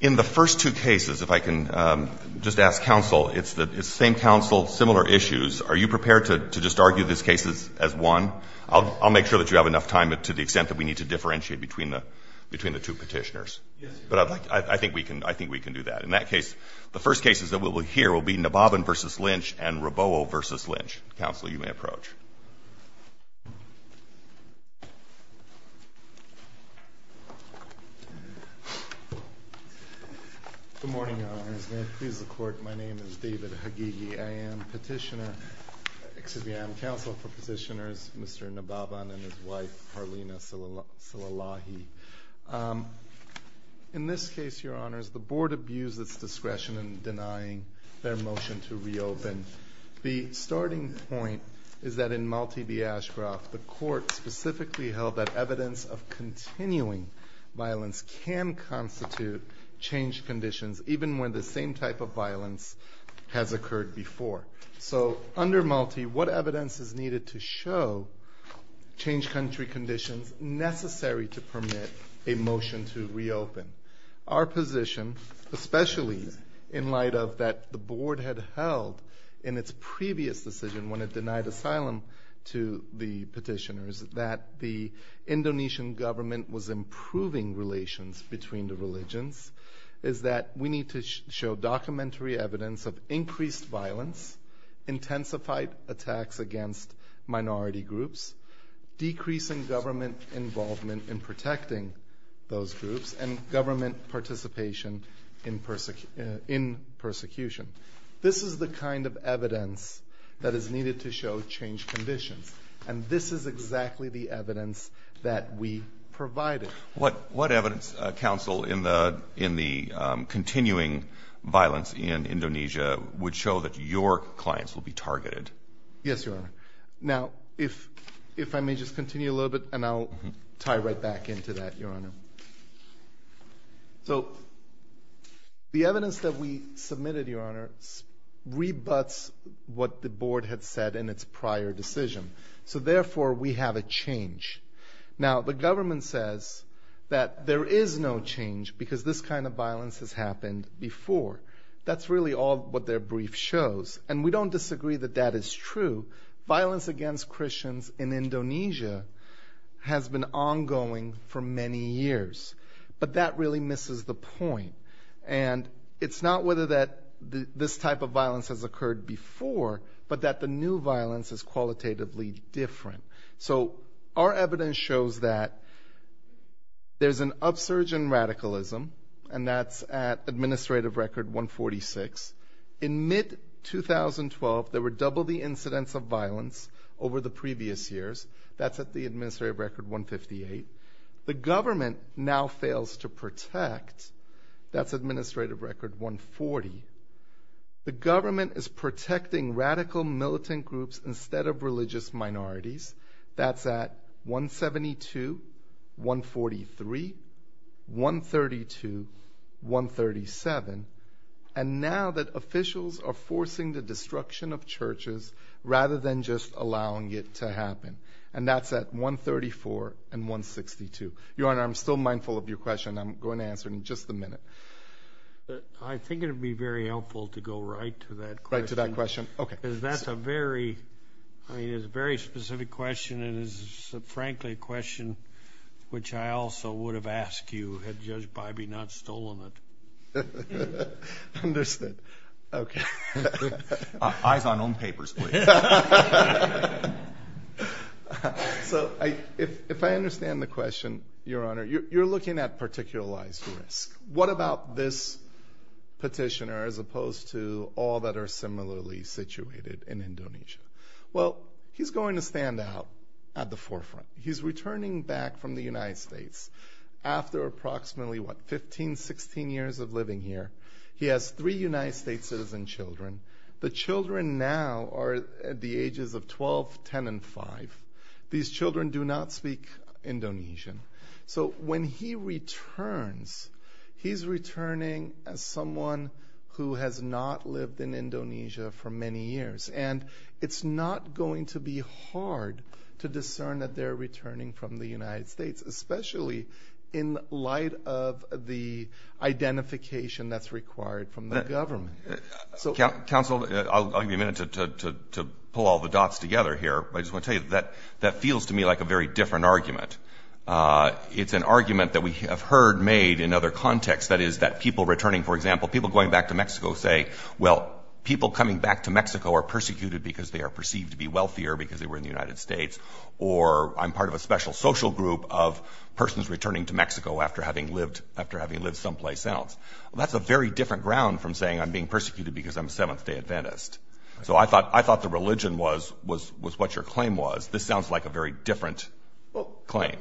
In the first two cases, if I can just ask counsel, it's the same counsel, similar issues. Are you prepared to just argue this case as one? I'll make sure that you have enough time to the extent that we need to differentiate between the two petitioners. But I think we can do that. In that case, the first cases that we'll hear will be Nababan v. Lynch and Rabowel v. Lynch. Counsel, you may approach. Good morning, Your Honors. May it please the Court, my name is David Hagigi. I am petitioner, excuse me, I am counsel for petitioners, Mr. Nababan and his wife, Harlina Salalahi. In this case, Your Honors, the Board abused its discretion in denying their motion to reopen. The starting point is that in Malti v. Ashcroft, the Court specifically held that evidence of continuing violence can constitute changed conditions, even when the same type of violence has occurred before. So under Malti, what evidence is needed to show changed country conditions necessary to permit a motion to reopen? Our position, especially in light of that the Board had held in its previous decision when it denied asylum to the petitioners, that the Indonesian government was improving relations between the religions, is that we need to show documentary evidence of increased violence, intensified attacks against minority groups, decreasing government involvement in protecting those groups, and government participation in persecution. This is the kind of evidence that is needed to show changed conditions, and this is exactly the evidence that we provided. What evidence, counsel, in the continuing violence in Indonesia would show that your clients will be targeted? Yes, Your Honor. Now, if I may just continue a little bit, and I'll tie right back into that, Your Honor. So the evidence that we submitted, Your Honor, rebuts what the Board had said in its prior decision, so therefore we have a change. Now, the government says that there is no change because this kind of violence has happened before. That's really all what their brief shows, and we don't disagree that that is true. Violence against Christians in Indonesia has been ongoing for many years, but that really misses the point, and it's not whether this type of violence has occurred before, but that the new violence is qualitatively different. So our evidence shows that there's an upsurge in radicalism, and that's at Administrative Record 146. In mid-2012, there were double the incidents of violence over the previous years. That's at the Administrative Record 158. The government now fails to protect. That's Administrative Record 140. The government is protecting radical militant groups instead of religious minorities. That's at 172, 143, 132, 137, and now that officials are forcing the destruction of churches rather than just allowing it to happen, and that's at 134 and 143. I think it would be very helpful to go right to that question. Right to that question, okay. Because that's a very, I mean, it's a very specific question, and it's frankly a question which I also would have asked you had Judge Bybee not stolen it. Understood. Okay. Eyes on own papers, please. So if I understand the question, Your Honor, you're looking at particularized risk. What about this petitioner as opposed to all that are similarly situated in Indonesia? Well, he's going to stand out at the forefront. He's returning back from the United States after approximately, what, 15, 16 years of living here. He has three United States citizen children. The children now are at the ages of 12, 10, and 5. These children do not speak Indonesian. So when he returns, he's returning as someone who has not lived in Indonesia for many years, and it's not going to be hard to discern that they're returning from the United States, especially in light of the identification that's required from the government. Counsel, I'll give you a minute to pull all the dots together here, but I just want to tell you that that feels to me like a very different argument. It's an argument that we have heard made in other contexts, that is, that people returning, for example, people going back to Mexico say, well, people coming back to Mexico are persecuted because they are perceived to be wealthier because they were in the United States, or I'm part of a special social group of persons returning to Mexico after having lived someplace else. Well, that's a very different ground from saying I'm being persecuted because I'm a Seventh-Day Adventist. So I thought the religion was what your claim was. This sounds like a very different claim.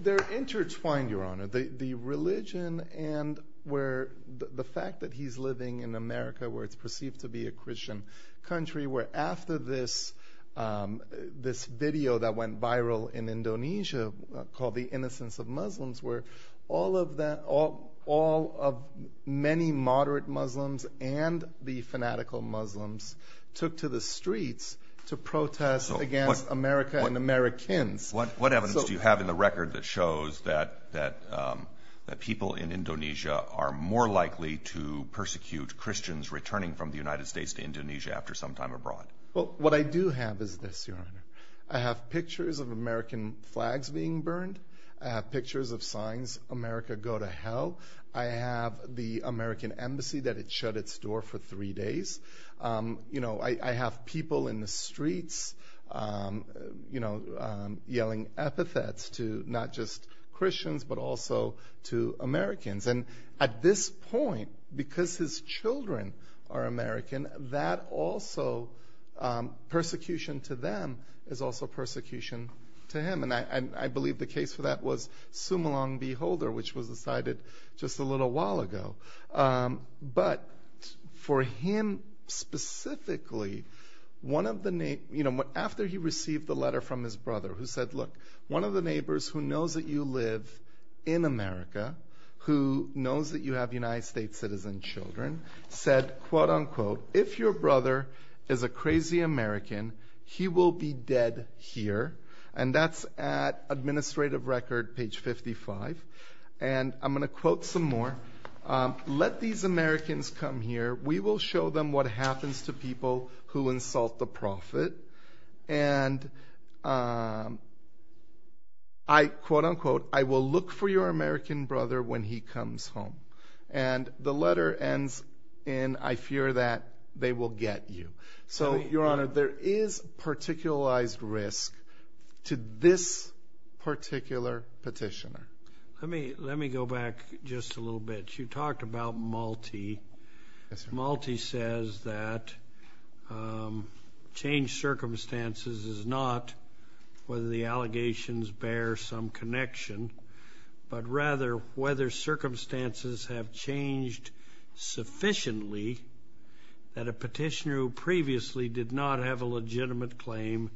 They're intertwined, Your Honor. The religion and where the fact that he's living in America where it's perceived to be a Christian country, where after this video that went viral in many moderate Muslims and the fanatical Muslims took to the streets to protest against America and Americans. What evidence do you have in the record that shows that people in Indonesia are more likely to persecute Christians returning from the United States to Indonesia after some time abroad? Well, what I do have is this, Your Honor. I have pictures of American flags being burned. I have pictures of signs, America go to hell. I have the American embassy that it shut its door for three days. I have people in the streets yelling epithets to not just Christians but also to Americans. And at this point, because his children are American, that also persecution to them is also persecution to him. And I believe the case for that was Sumalong B. Holder, which was decided just a little while ago. But for him specifically, after he received the letter from his brother who said, look, one of the neighbors who knows that you live in America, who knows that you have United States citizen children, said if your brother is a crazy American, he will be dead here. And that's at administrative record page 55. And I'm going to quote some more. Let these Americans come here. We will show them what happens to people who insult the prophet. And I quote unquote, I will look for your American brother when he comes home. And the letter ends in, I fear that they will get you. So your honor, there is particularized risk to this particular petitioner. Let me go back just a little bit. You talked about Malti. Malti says that changed whether circumstances have changed sufficiently that a petitioner who previously did not have a legitimate claim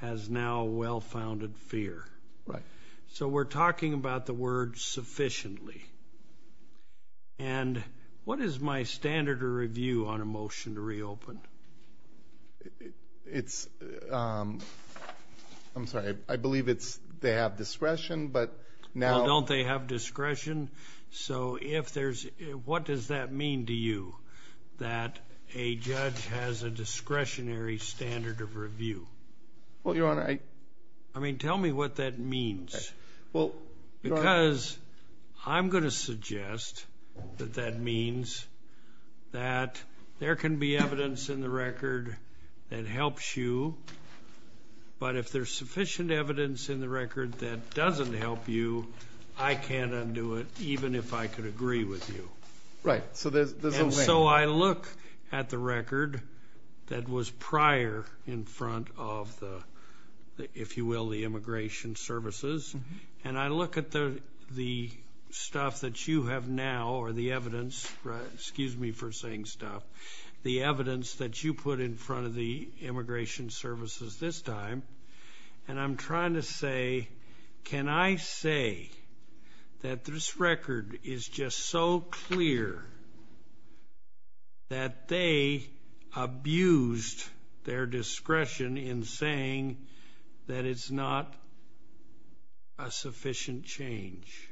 has now well-founded fear. Right. So we're talking about the word sufficiently. And what is my standard or review on a motion to reopen? It's I'm sorry. I believe it's they have discretion, but now don't they have discretion? So if there's what does that mean to you that a judge has a discretionary standard of review? Well, your honor, I mean, tell me what that means. Well, because I'm going to suggest that that means that there can be evidence in the record that helps you. But if there's sufficient evidence in the record that doesn't help you, I can't undo it even if I could agree with you. Right. So there's a way. And so I look at the record that was prior in front of the, if you will, the immigration services. And I look at the stuff that you have now or the evidence, excuse me for saying stuff, the evidence that you put in front of the immigration services this time. And I'm trying to say, can I say that this record is just so clear that they abused their discretion in saying that it's not a sufficient change?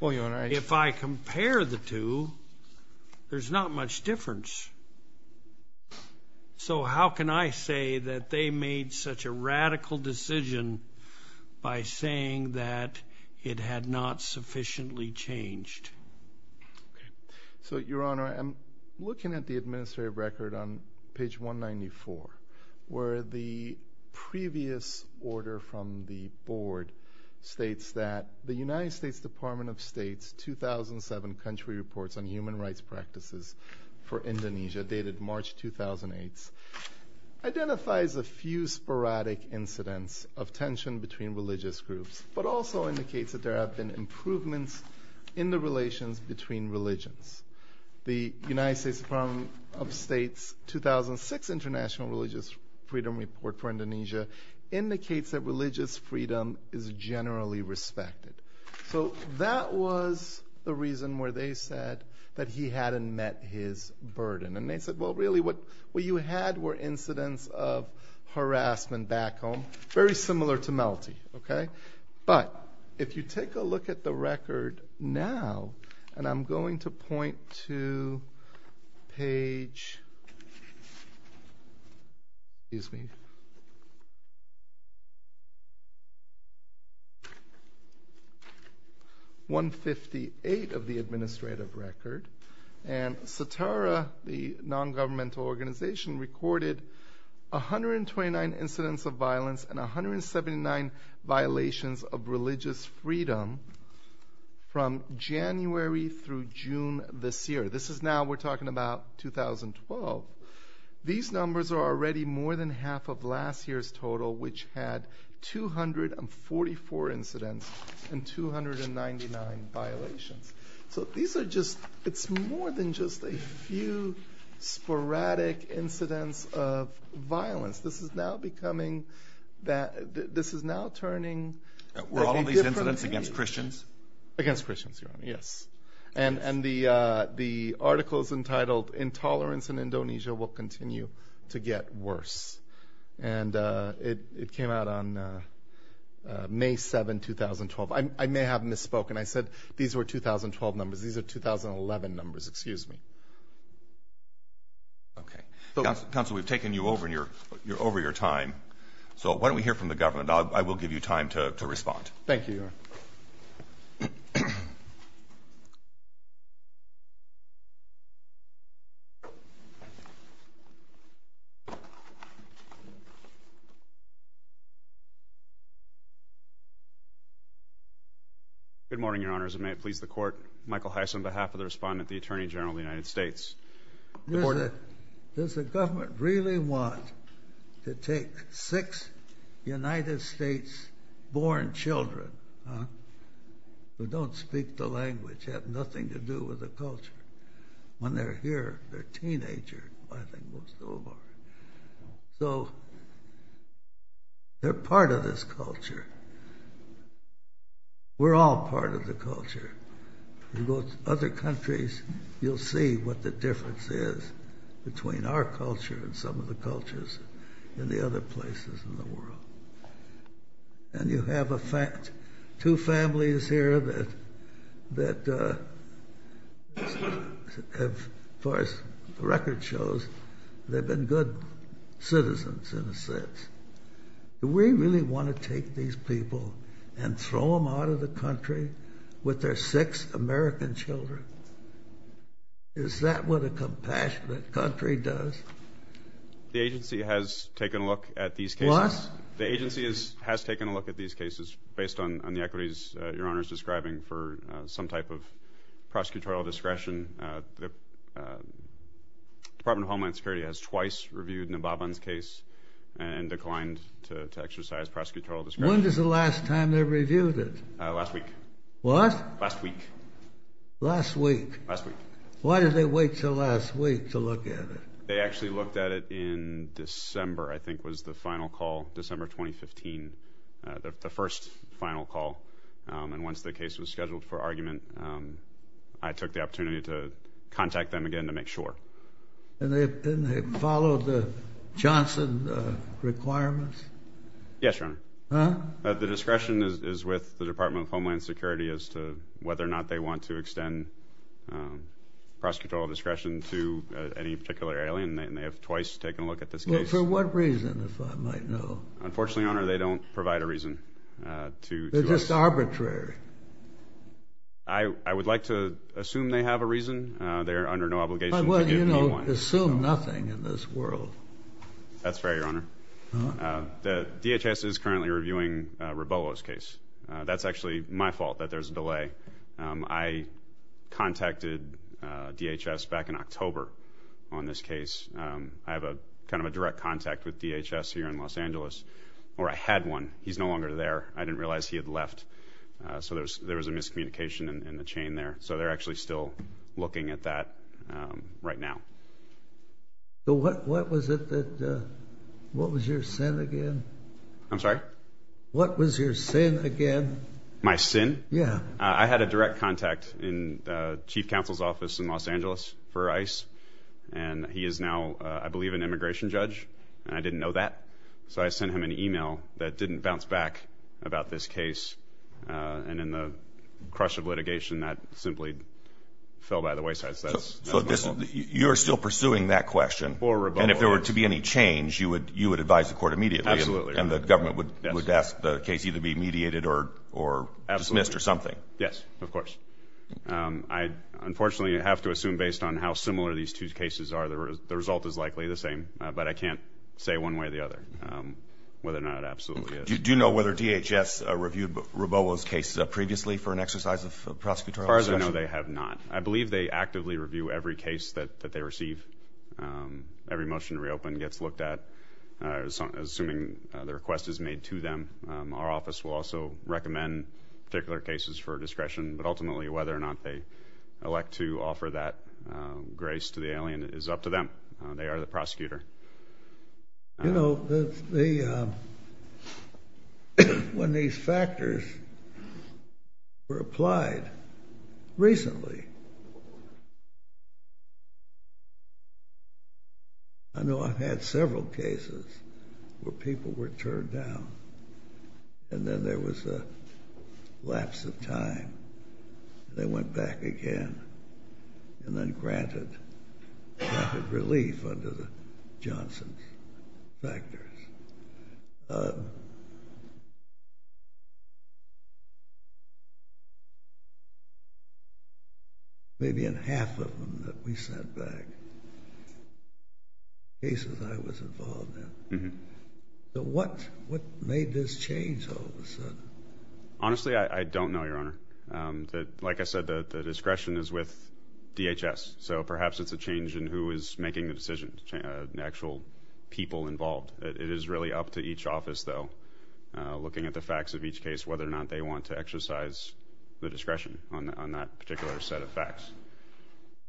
If I compare the two, there's not much difference. So how can I say that they made such a radical decision by saying that it had not sufficiently changed? So your honor, I'm looking at the administrative record on page 194, where the previous order from the board states that the United States Department of State's 2007 Country Reports on Human Rights Practices for Indonesia, dated March 2008, identifies a few sporadic incidents of tension between religious groups, but also indicates that there have been improvements in the relations between religions. The United States Department of State's 2006 International Religious Freedom Report for Indonesia indicates that religious That was the reason where they said that he hadn't met his burden. And they said, well really what you had were incidents of harassment back home, very similar to Melty. But if you take a look at the record now, and I'm going to point to page 158 of the administrative record, and SATARA, the non-governmental organization, recorded 129 incidents of violence and 179 violations of religious freedom from January through June this year. This is now, we're talking about 2012. These numbers are already more than half of last year's total, which had 244 incidents and 299 violations. So these are just, it's more than just a few sporadic incidents of violence. This is now becoming, this is now turning. Were all of these incidents against Christians? Against Christians, Your Honor, yes. And the article's entitled, Intolerance in Indonesia Will Continue to Get Worse. And it came out on May 7, 2012. I may have misspoken. I said these were 2012 numbers. These are 2011 numbers, excuse me. Okay. Counsel, we've taken you over your time. So why don't we hear from the government. I will give you time to respond. Thank you, Your Honor. Good morning, Your Honors. And may it please the Court, Michael Heiss on behalf of the Respondent, the Attorney General of the United States. Does the government really want to take six United States born children who don't speak the language, have nothing to do with the culture? When they're here, they're teenagers, I think most of them are. So they're part of this culture. We're all part of the culture. In other countries, you'll see what the difference is between our culture and some of the And you have two families here that, as far as the record shows, they've been good citizens in a sense. Do we really want to take these people and throw them out of the country with their six American children? Is that what a compassionate country does? The agency has taken a look at these cases. The agency has taken a look at these cases based on the equities Your Honor is describing for some type of prosecutorial discretion. The Department of Homeland Security has twice reviewed Naboban's case and declined to exercise prosecutorial discretion. When was the last time they reviewed it? Last week. What? Last week. Last week? Last week. Why did they wait until last week to look at it? They actually looked at it in December, I think was the final call, December 2015, the first final call. And once the case was scheduled for argument, I took the opportunity to contact them again to make sure. And they followed the Johnson requirements? Yes, Your Honor. The discretion is with the Department of Homeland Security as to whether or not they want to extend prosecutorial discretion to any particular alien. And they have twice taken a look at this case. For what reason, if I might know? Unfortunately, Your Honor, they don't provide a reason to us. They're just arbitrary. I would like to assume they have a reason. They're under no obligation to give me one. Well, you don't assume nothing in this world. That's fair, Your Honor. The DHS is currently reviewing Rabolo's case. That's actually my fault that there's a delay. I contacted DHS back in October on this case. I have a kind of a direct contact with DHS here in Los Angeles, or I had one. He's no longer there. I didn't realize he had left. So there was a miscommunication in the chain there. So they're actually still looking at that right now. What was your sin again? I'm sorry? What was your sin again? My sin? Yeah. I had a direct contact in the chief counsel's office in Los Angeles for ICE. And he is now, I believe, an immigration judge. And I didn't know that. So I sent him an email that didn't bounce back about this case. And in the crush of litigation, that simply fell by the wayside. So you're still pursuing that question? For Rabolo. And if there were to be any change, you would advise the court immediately? Absolutely, Your Honor. And the government would ask the case either be mediated or dismissed or something? Yes, of course. I unfortunately have to assume, based on how similar these two cases are, the result is likely the same. But I can't say one way or the other whether or not it absolutely is. Do you know whether DHS reviewed Rabolo's case previously for an exercise of prosecutorial discretion? As far as I know, they have not. I believe they actively review every case that they receive. Every motion to reopen gets looked at, assuming the request is made to them. Our office will also recommend particular cases for discretion. But ultimately, whether or not they elect to offer that grace to the alien is up to them. They are the prosecutor. You know, when these factors were applied recently, I know I've had several cases where people were turned down. And then there was a lapse of time. They went back again and then granted rapid relief under the Johnson factors. Maybe in half of them that we sent back, cases I was involved in. So what made this change all of a sudden? Honestly, I don't know, Your Honor. Like I said, the discretion is with DHS. So perhaps it's a change in who is making the decision, the actual people involved. It is really up to each office, though, looking at the facts of each case, whether or not they want to exercise the discretion on that particular set of facts.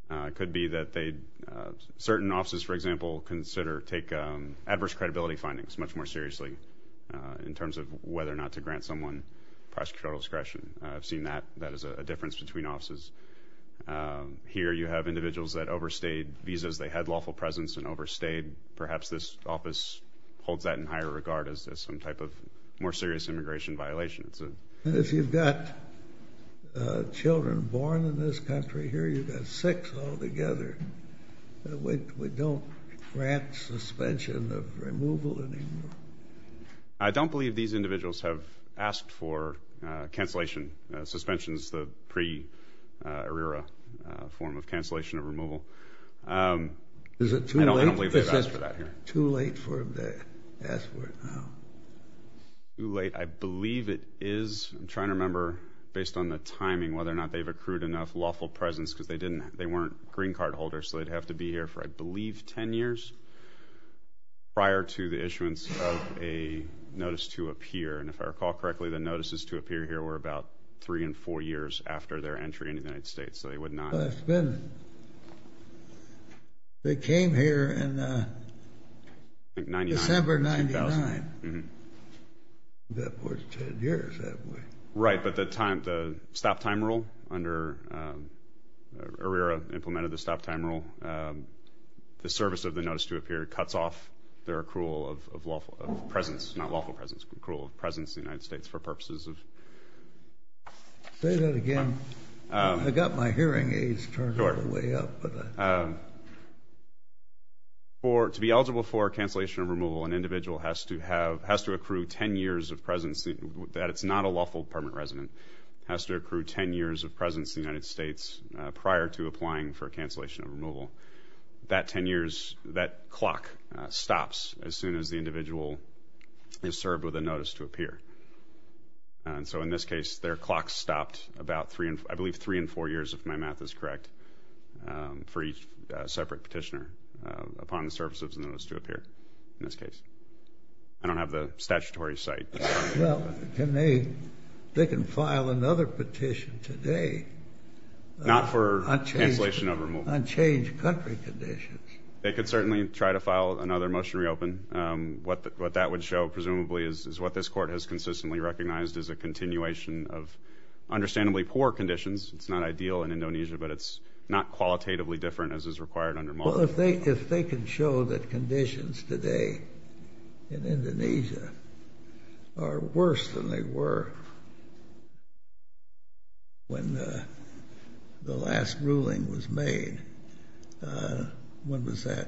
It could be that certain offices, for example, take adverse credibility findings much more seriously in terms of whether or not to grant someone prosecutorial discretion. I've seen that. That is a difference between offices. Here you have individuals that overstayed visas. They had lawful presence and overstayed. Perhaps this office holds that in higher regard as some type of more serious immigration violation. If you've got children born in this country, here you've got six altogether. We don't grant suspension of removal anymore. I don't believe these individuals have asked for cancellation. Suspension is the pre-ERRA form of cancellation of removal. Is it too late? I don't believe they've asked for that here. Is it too late for them to ask for it now? Too late. I believe it is. I'm trying to remember, based on the timing, whether or not they've accrued enough lawful presence because they weren't green card holders, so they'd have to be here for, I believe, 10 years prior to the issuance of a notice to appear. And if I recall correctly, the notices to appear here were about three and four years after their entry into the United States, so they would not. Well, it's been. They came here in December 1999. That was 10 years that way. Right, but the stop time rule under ERRA implemented the stop time rule. The service of the notice to appear cuts off their accrual of presence, not lawful presence, accrual of presence in the United States for purposes of... Say that again. I've got my hearing aids turned all the way up. To be eligible for cancellation of removal, an individual has to accrue 10 years of presence. That it's not a lawful permanent resident. It has to accrue 10 years of presence in the United States prior to applying for cancellation of removal. That 10 years, that clock stops as soon as the individual is served with a notice to appear. And so in this case, their clock stopped about, I believe, three and four years, if my math is correct, for each separate petitioner upon the service of the notice to appear in this case. I don't have the statutory cite. Well, they can file another petition today. Not for cancellation of removal. Unchanged country conditions. They could certainly try to file another motion to reopen. What that would show, presumably, is what this court has consistently recognized as a continuation of understandably poor conditions. It's not ideal in Indonesia, but it's not qualitatively different as is required under MOLA. Well, if they can show that conditions today in Indonesia are worse than they were when the last ruling was made, when was that,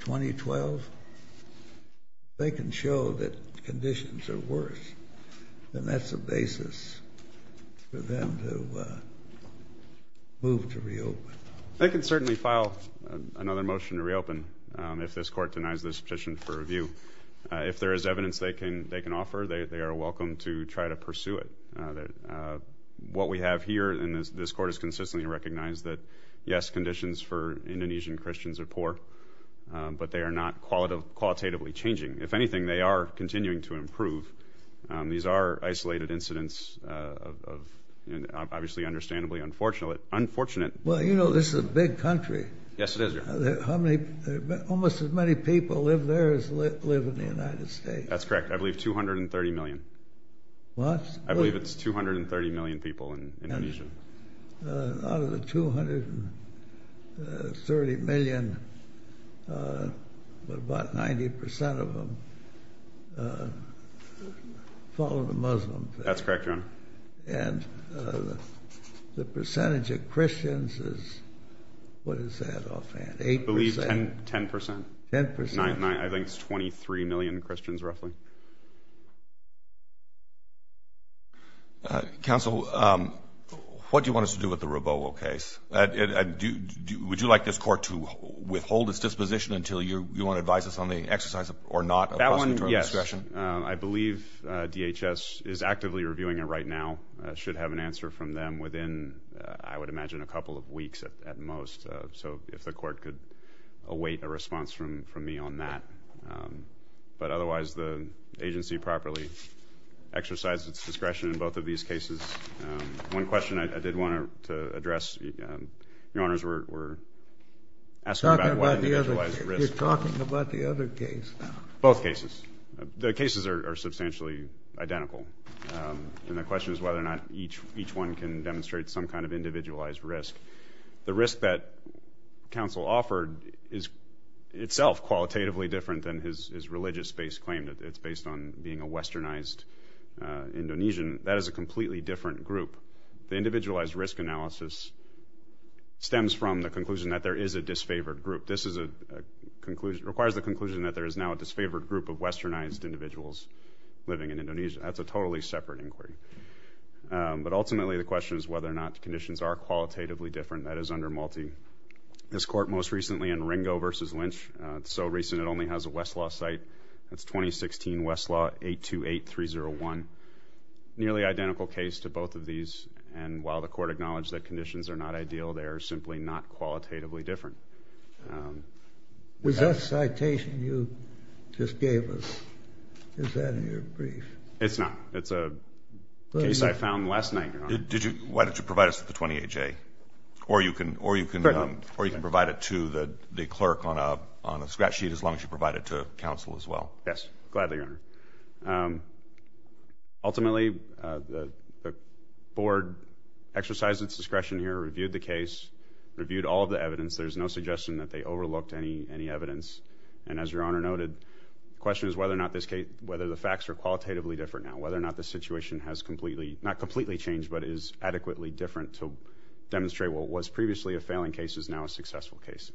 2012? If they can show that conditions are worse, then that's a basis for them to move to reopen. They can certainly file another motion to reopen if this court denies this petition for review. If there is evidence they can offer, they are welcome to try to pursue it. What we have here in this court is consistently recognized that, yes, conditions for Indonesian Christians are poor, but they are not qualitatively changing. If anything, they are continuing to improve. These are isolated incidents of, obviously, understandably unfortunate. Well, you know this is a big country. Yes, it is, Your Honor. Almost as many people live there as live in the United States. That's correct. I believe 230 million. What? I believe it's 230 million people in Indonesia. Out of the 230 million, about 90% of them follow the Muslim faith. That's correct, Your Honor. And the percentage of Christians is, what is that offhand, 8%? I believe 10%. 10%? I think it's 23 million Christians, roughly. Counsel, what do you want us to do with the Robowo case? Would you like this court to withhold its disposition until you want to advise us on the exercise or not of prosecutorial discretion? I believe DHS is actively reviewing it right now. It should have an answer from them within, I would imagine, a couple of weeks at most, so if the court could await a response from me on that. But otherwise, the agency properly exercises its discretion in both of these cases. One question I did want to address. Your Honors, we're asking about individualized risk. You're talking about the other case now. Both cases. The cases are substantially identical, and the question is whether or not each one can demonstrate some kind of individualized risk. The risk that counsel offered is itself qualitatively different than his religious-based claim, that it's based on being a westernized Indonesian. That is a completely different group. The individualized risk analysis stems from the conclusion that there is a disfavored group. This requires the conclusion that there is now a disfavored group of westernized individuals living in Indonesia. That's a totally separate inquiry. But ultimately, the question is whether or not the conditions are qualitatively different. That is under Malti. This court most recently in Ringo v. Lynch, so recent it only has a Westlaw site. That's 2016 Westlaw 828301. Nearly identical case to both of these, and while the court acknowledged that conditions are not ideal, they are simply not qualitatively different. Was that citation you just gave us, is that in your brief? It's not. It's a case I found last night, Your Honor. Why don't you provide us with the 28-J? Or you can provide it to the clerk on a scratch sheet as long as you provide it to counsel as well. Yes. Gladly, Your Honor. Ultimately, the board exercised its discretion here, reviewed the case, reviewed all of the evidence. There's no suggestion that they overlooked any evidence. And as Your Honor noted, the question is whether or not the facts are qualitatively different now, whether or not the situation has completely, not completely changed, but is adequately different to demonstrate what was previously a failing case is now a successful case.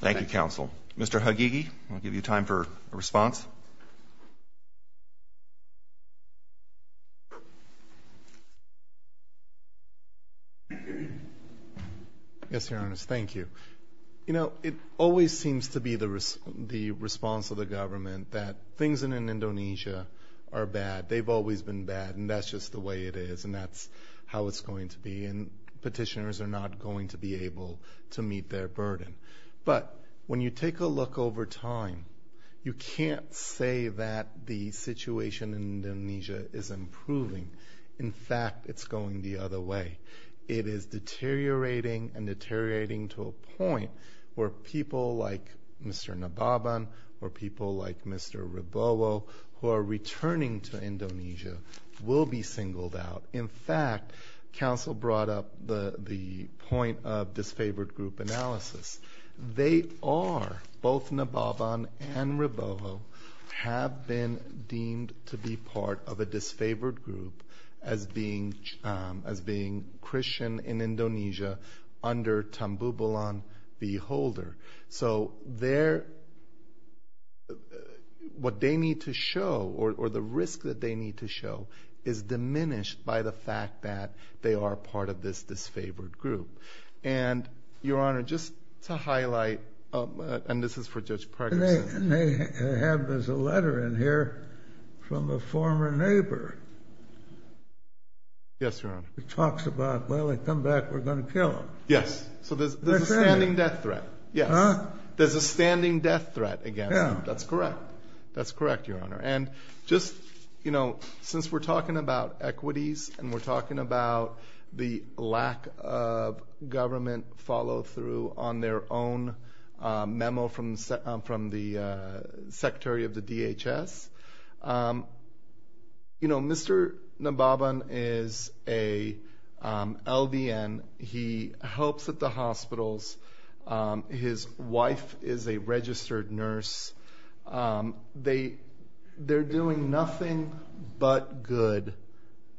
Thank you, counsel. Mr. Hagigi, I'll give you time for a response. Yes, Your Honor. Thank you. You know, it always seems to be the response of the government that things in Indonesia are bad. They've always been bad, and that's just the way it is, and that's how it's going to be, and petitioners are not going to be able to meet their burden. But when you take a look over time, you can't say that the situation in Indonesia is improving. In fact, it's going the other way. It is deteriorating and deteriorating to a point where people like Mr. Nababan or people like Mr. Ribowo who are returning to Indonesia will be singled out. In fact, counsel brought up the point of disfavored group analysis. They are, both Nababan and Ribowo, have been deemed to be part of a disfavored group as being Christian in Indonesia under Tambubulan V. Holder. So what they need to show, or the risk that they need to show, is diminished by the fact that they are part of this disfavored group. And, Your Honor, just to highlight, and this is for Judge Parkinson. They have a letter in here from a former neighbor. Yes, Your Honor. It talks about, well, they come back, we're going to kill them. Yes, so there's a standing death threat. Yes, there's a standing death threat against them. That's correct. That's correct, Your Honor. And just, you know, since we're talking about equities and we're talking about the lack of government follow through on their own memo from the Secretary of the DHS, you know, Mr. Nababan is a LDN. He helps at the hospitals. His wife is a registered nurse. They're doing nothing but good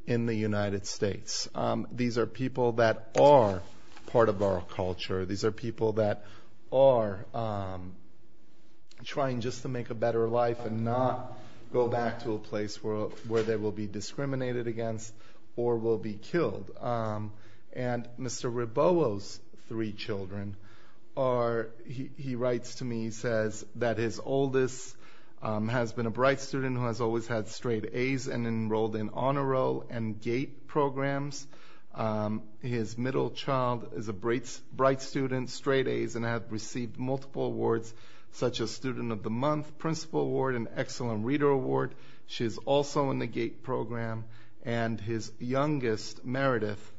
in the United States. These are people that are part of our culture. These are people that are trying just to make a better life and not go back to a place where they will be discriminated against or will be killed. And Mr. Ribobo's three children are, he writes to me, he says that his oldest has been a bright student who has always had straight A's and enrolled in honor roll and GATE programs. His middle child is a bright student, straight A's, and has received multiple awards such as Student of the Month, Principal Award, and Excellent Reader Award. She's also in the GATE program. And his youngest, Meredith,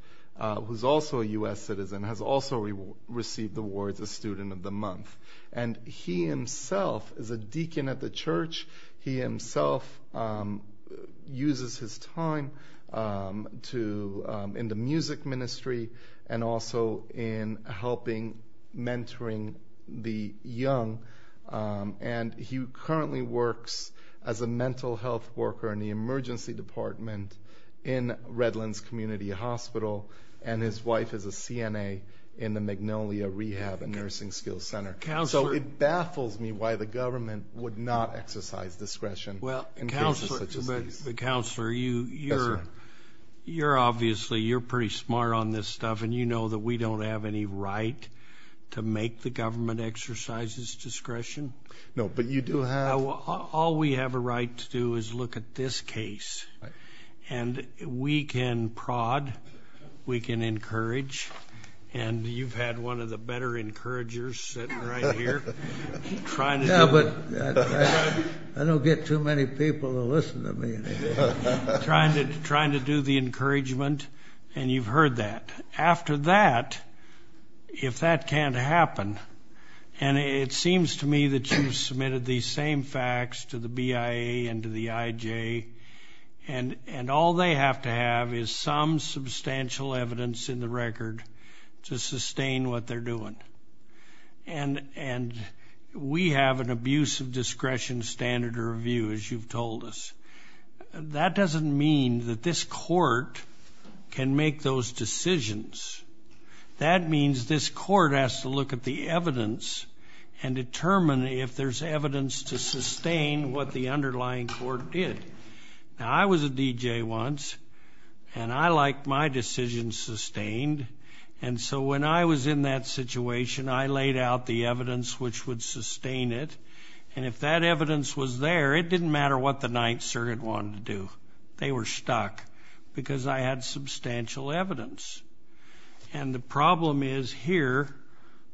who's also a U.S. citizen, has also received awards as Student of the Month. And he himself is a deacon at the church. He himself uses his time in the music ministry and also in helping mentoring the young. And he currently works as a mental health worker in the emergency department in Redlands Community Hospital, and his wife is a CNA in the Magnolia Rehab and Nursing Skills Center. So it baffles me why the government would not exercise discretion in cases such as these. But, Counselor, you're obviously pretty smart on this stuff, and you know that we don't have any right to make the government exercise its discretion. No, but you do have. All we have a right to do is look at this case, and we can prod, we can encourage, and you've had one of the better encouragers sitting right here trying to do it. Yeah, but I don't get too many people to listen to me. Trying to do the encouragement, and you've heard that. After that, if that can't happen, and it seems to me that you've submitted these same facts to the BIA and to the IJ, and all they have to have is some substantial evidence in the record to sustain what they're doing. And we have an abuse of discretion standard of review, as you've told us. That doesn't mean that this court can make those decisions. That means this court has to look at the evidence and determine if there's evidence to sustain what the underlying court did. Now, I was a DJ once, and I like my decisions sustained. And so when I was in that situation, I laid out the evidence which would sustain it. And if that evidence was there, it didn't matter what the Ninth Circuit wanted to do. They were stuck because I had substantial evidence. And the problem is here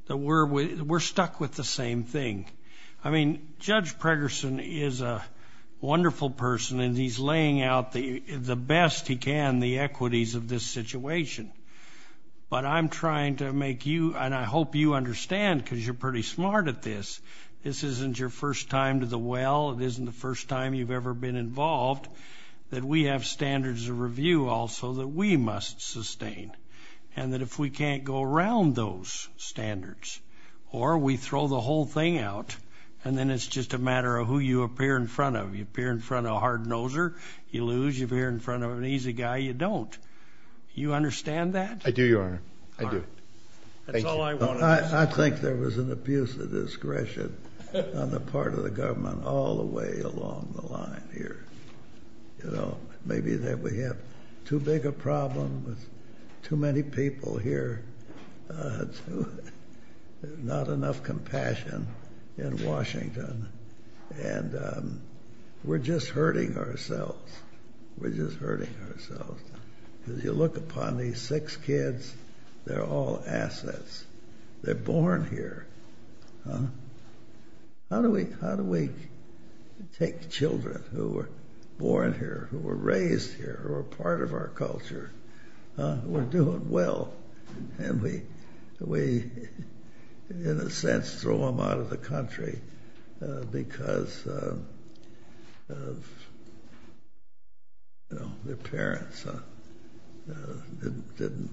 that we're stuck with the same thing. I mean, Judge Pregerson is a wonderful person, and he's laying out the best he can the equities of this situation. But I'm trying to make you, and I hope you understand because you're pretty smart at this, this isn't your first time to the well, it isn't the first time you've ever been involved, that we have standards of review also that we must sustain. And that if we can't go around those standards or we throw the whole thing out, and then it's just a matter of who you appear in front of. You appear in front of a hard noser, you lose. You appear in front of an easy guy, you don't. Do you understand that? I do, Your Honor. I do. That's all I wanted to say. I think there was an abuse of discretion on the part of the government all the way along the line here. Maybe we have too big a problem with too many people here, not enough compassion in Washington. And we're just hurting ourselves. We're just hurting ourselves. As you look upon these six kids, they're all assets. They're born here. How do we take children who were born here, who were raised here, who are part of our culture, who are doing well, and we, in a sense, throw them out of the country because their parents didn't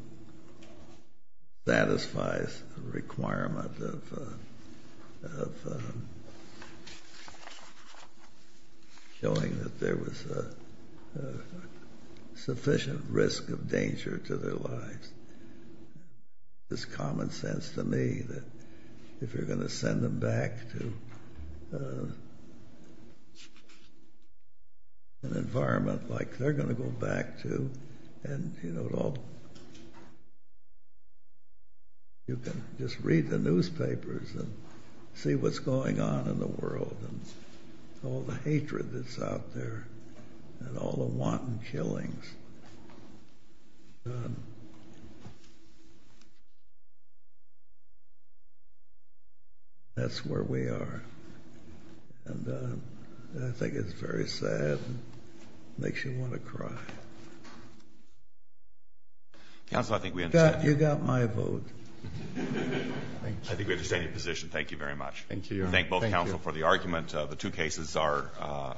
satisfy the requirement of showing that there was a sufficient risk of danger to their lives. It's common sense to me that if you're going to send them back to an environment like they're going to go back to, you can just read the newspapers and see what's going on in the world and all the hatred that's out there and all the wanton killings. That's where we are. And I think it's very sad and makes you want to cry. You got my vote. I think we understand your position. Thank you very much. Thank you. Thank both counsel for the argument. The two cases are—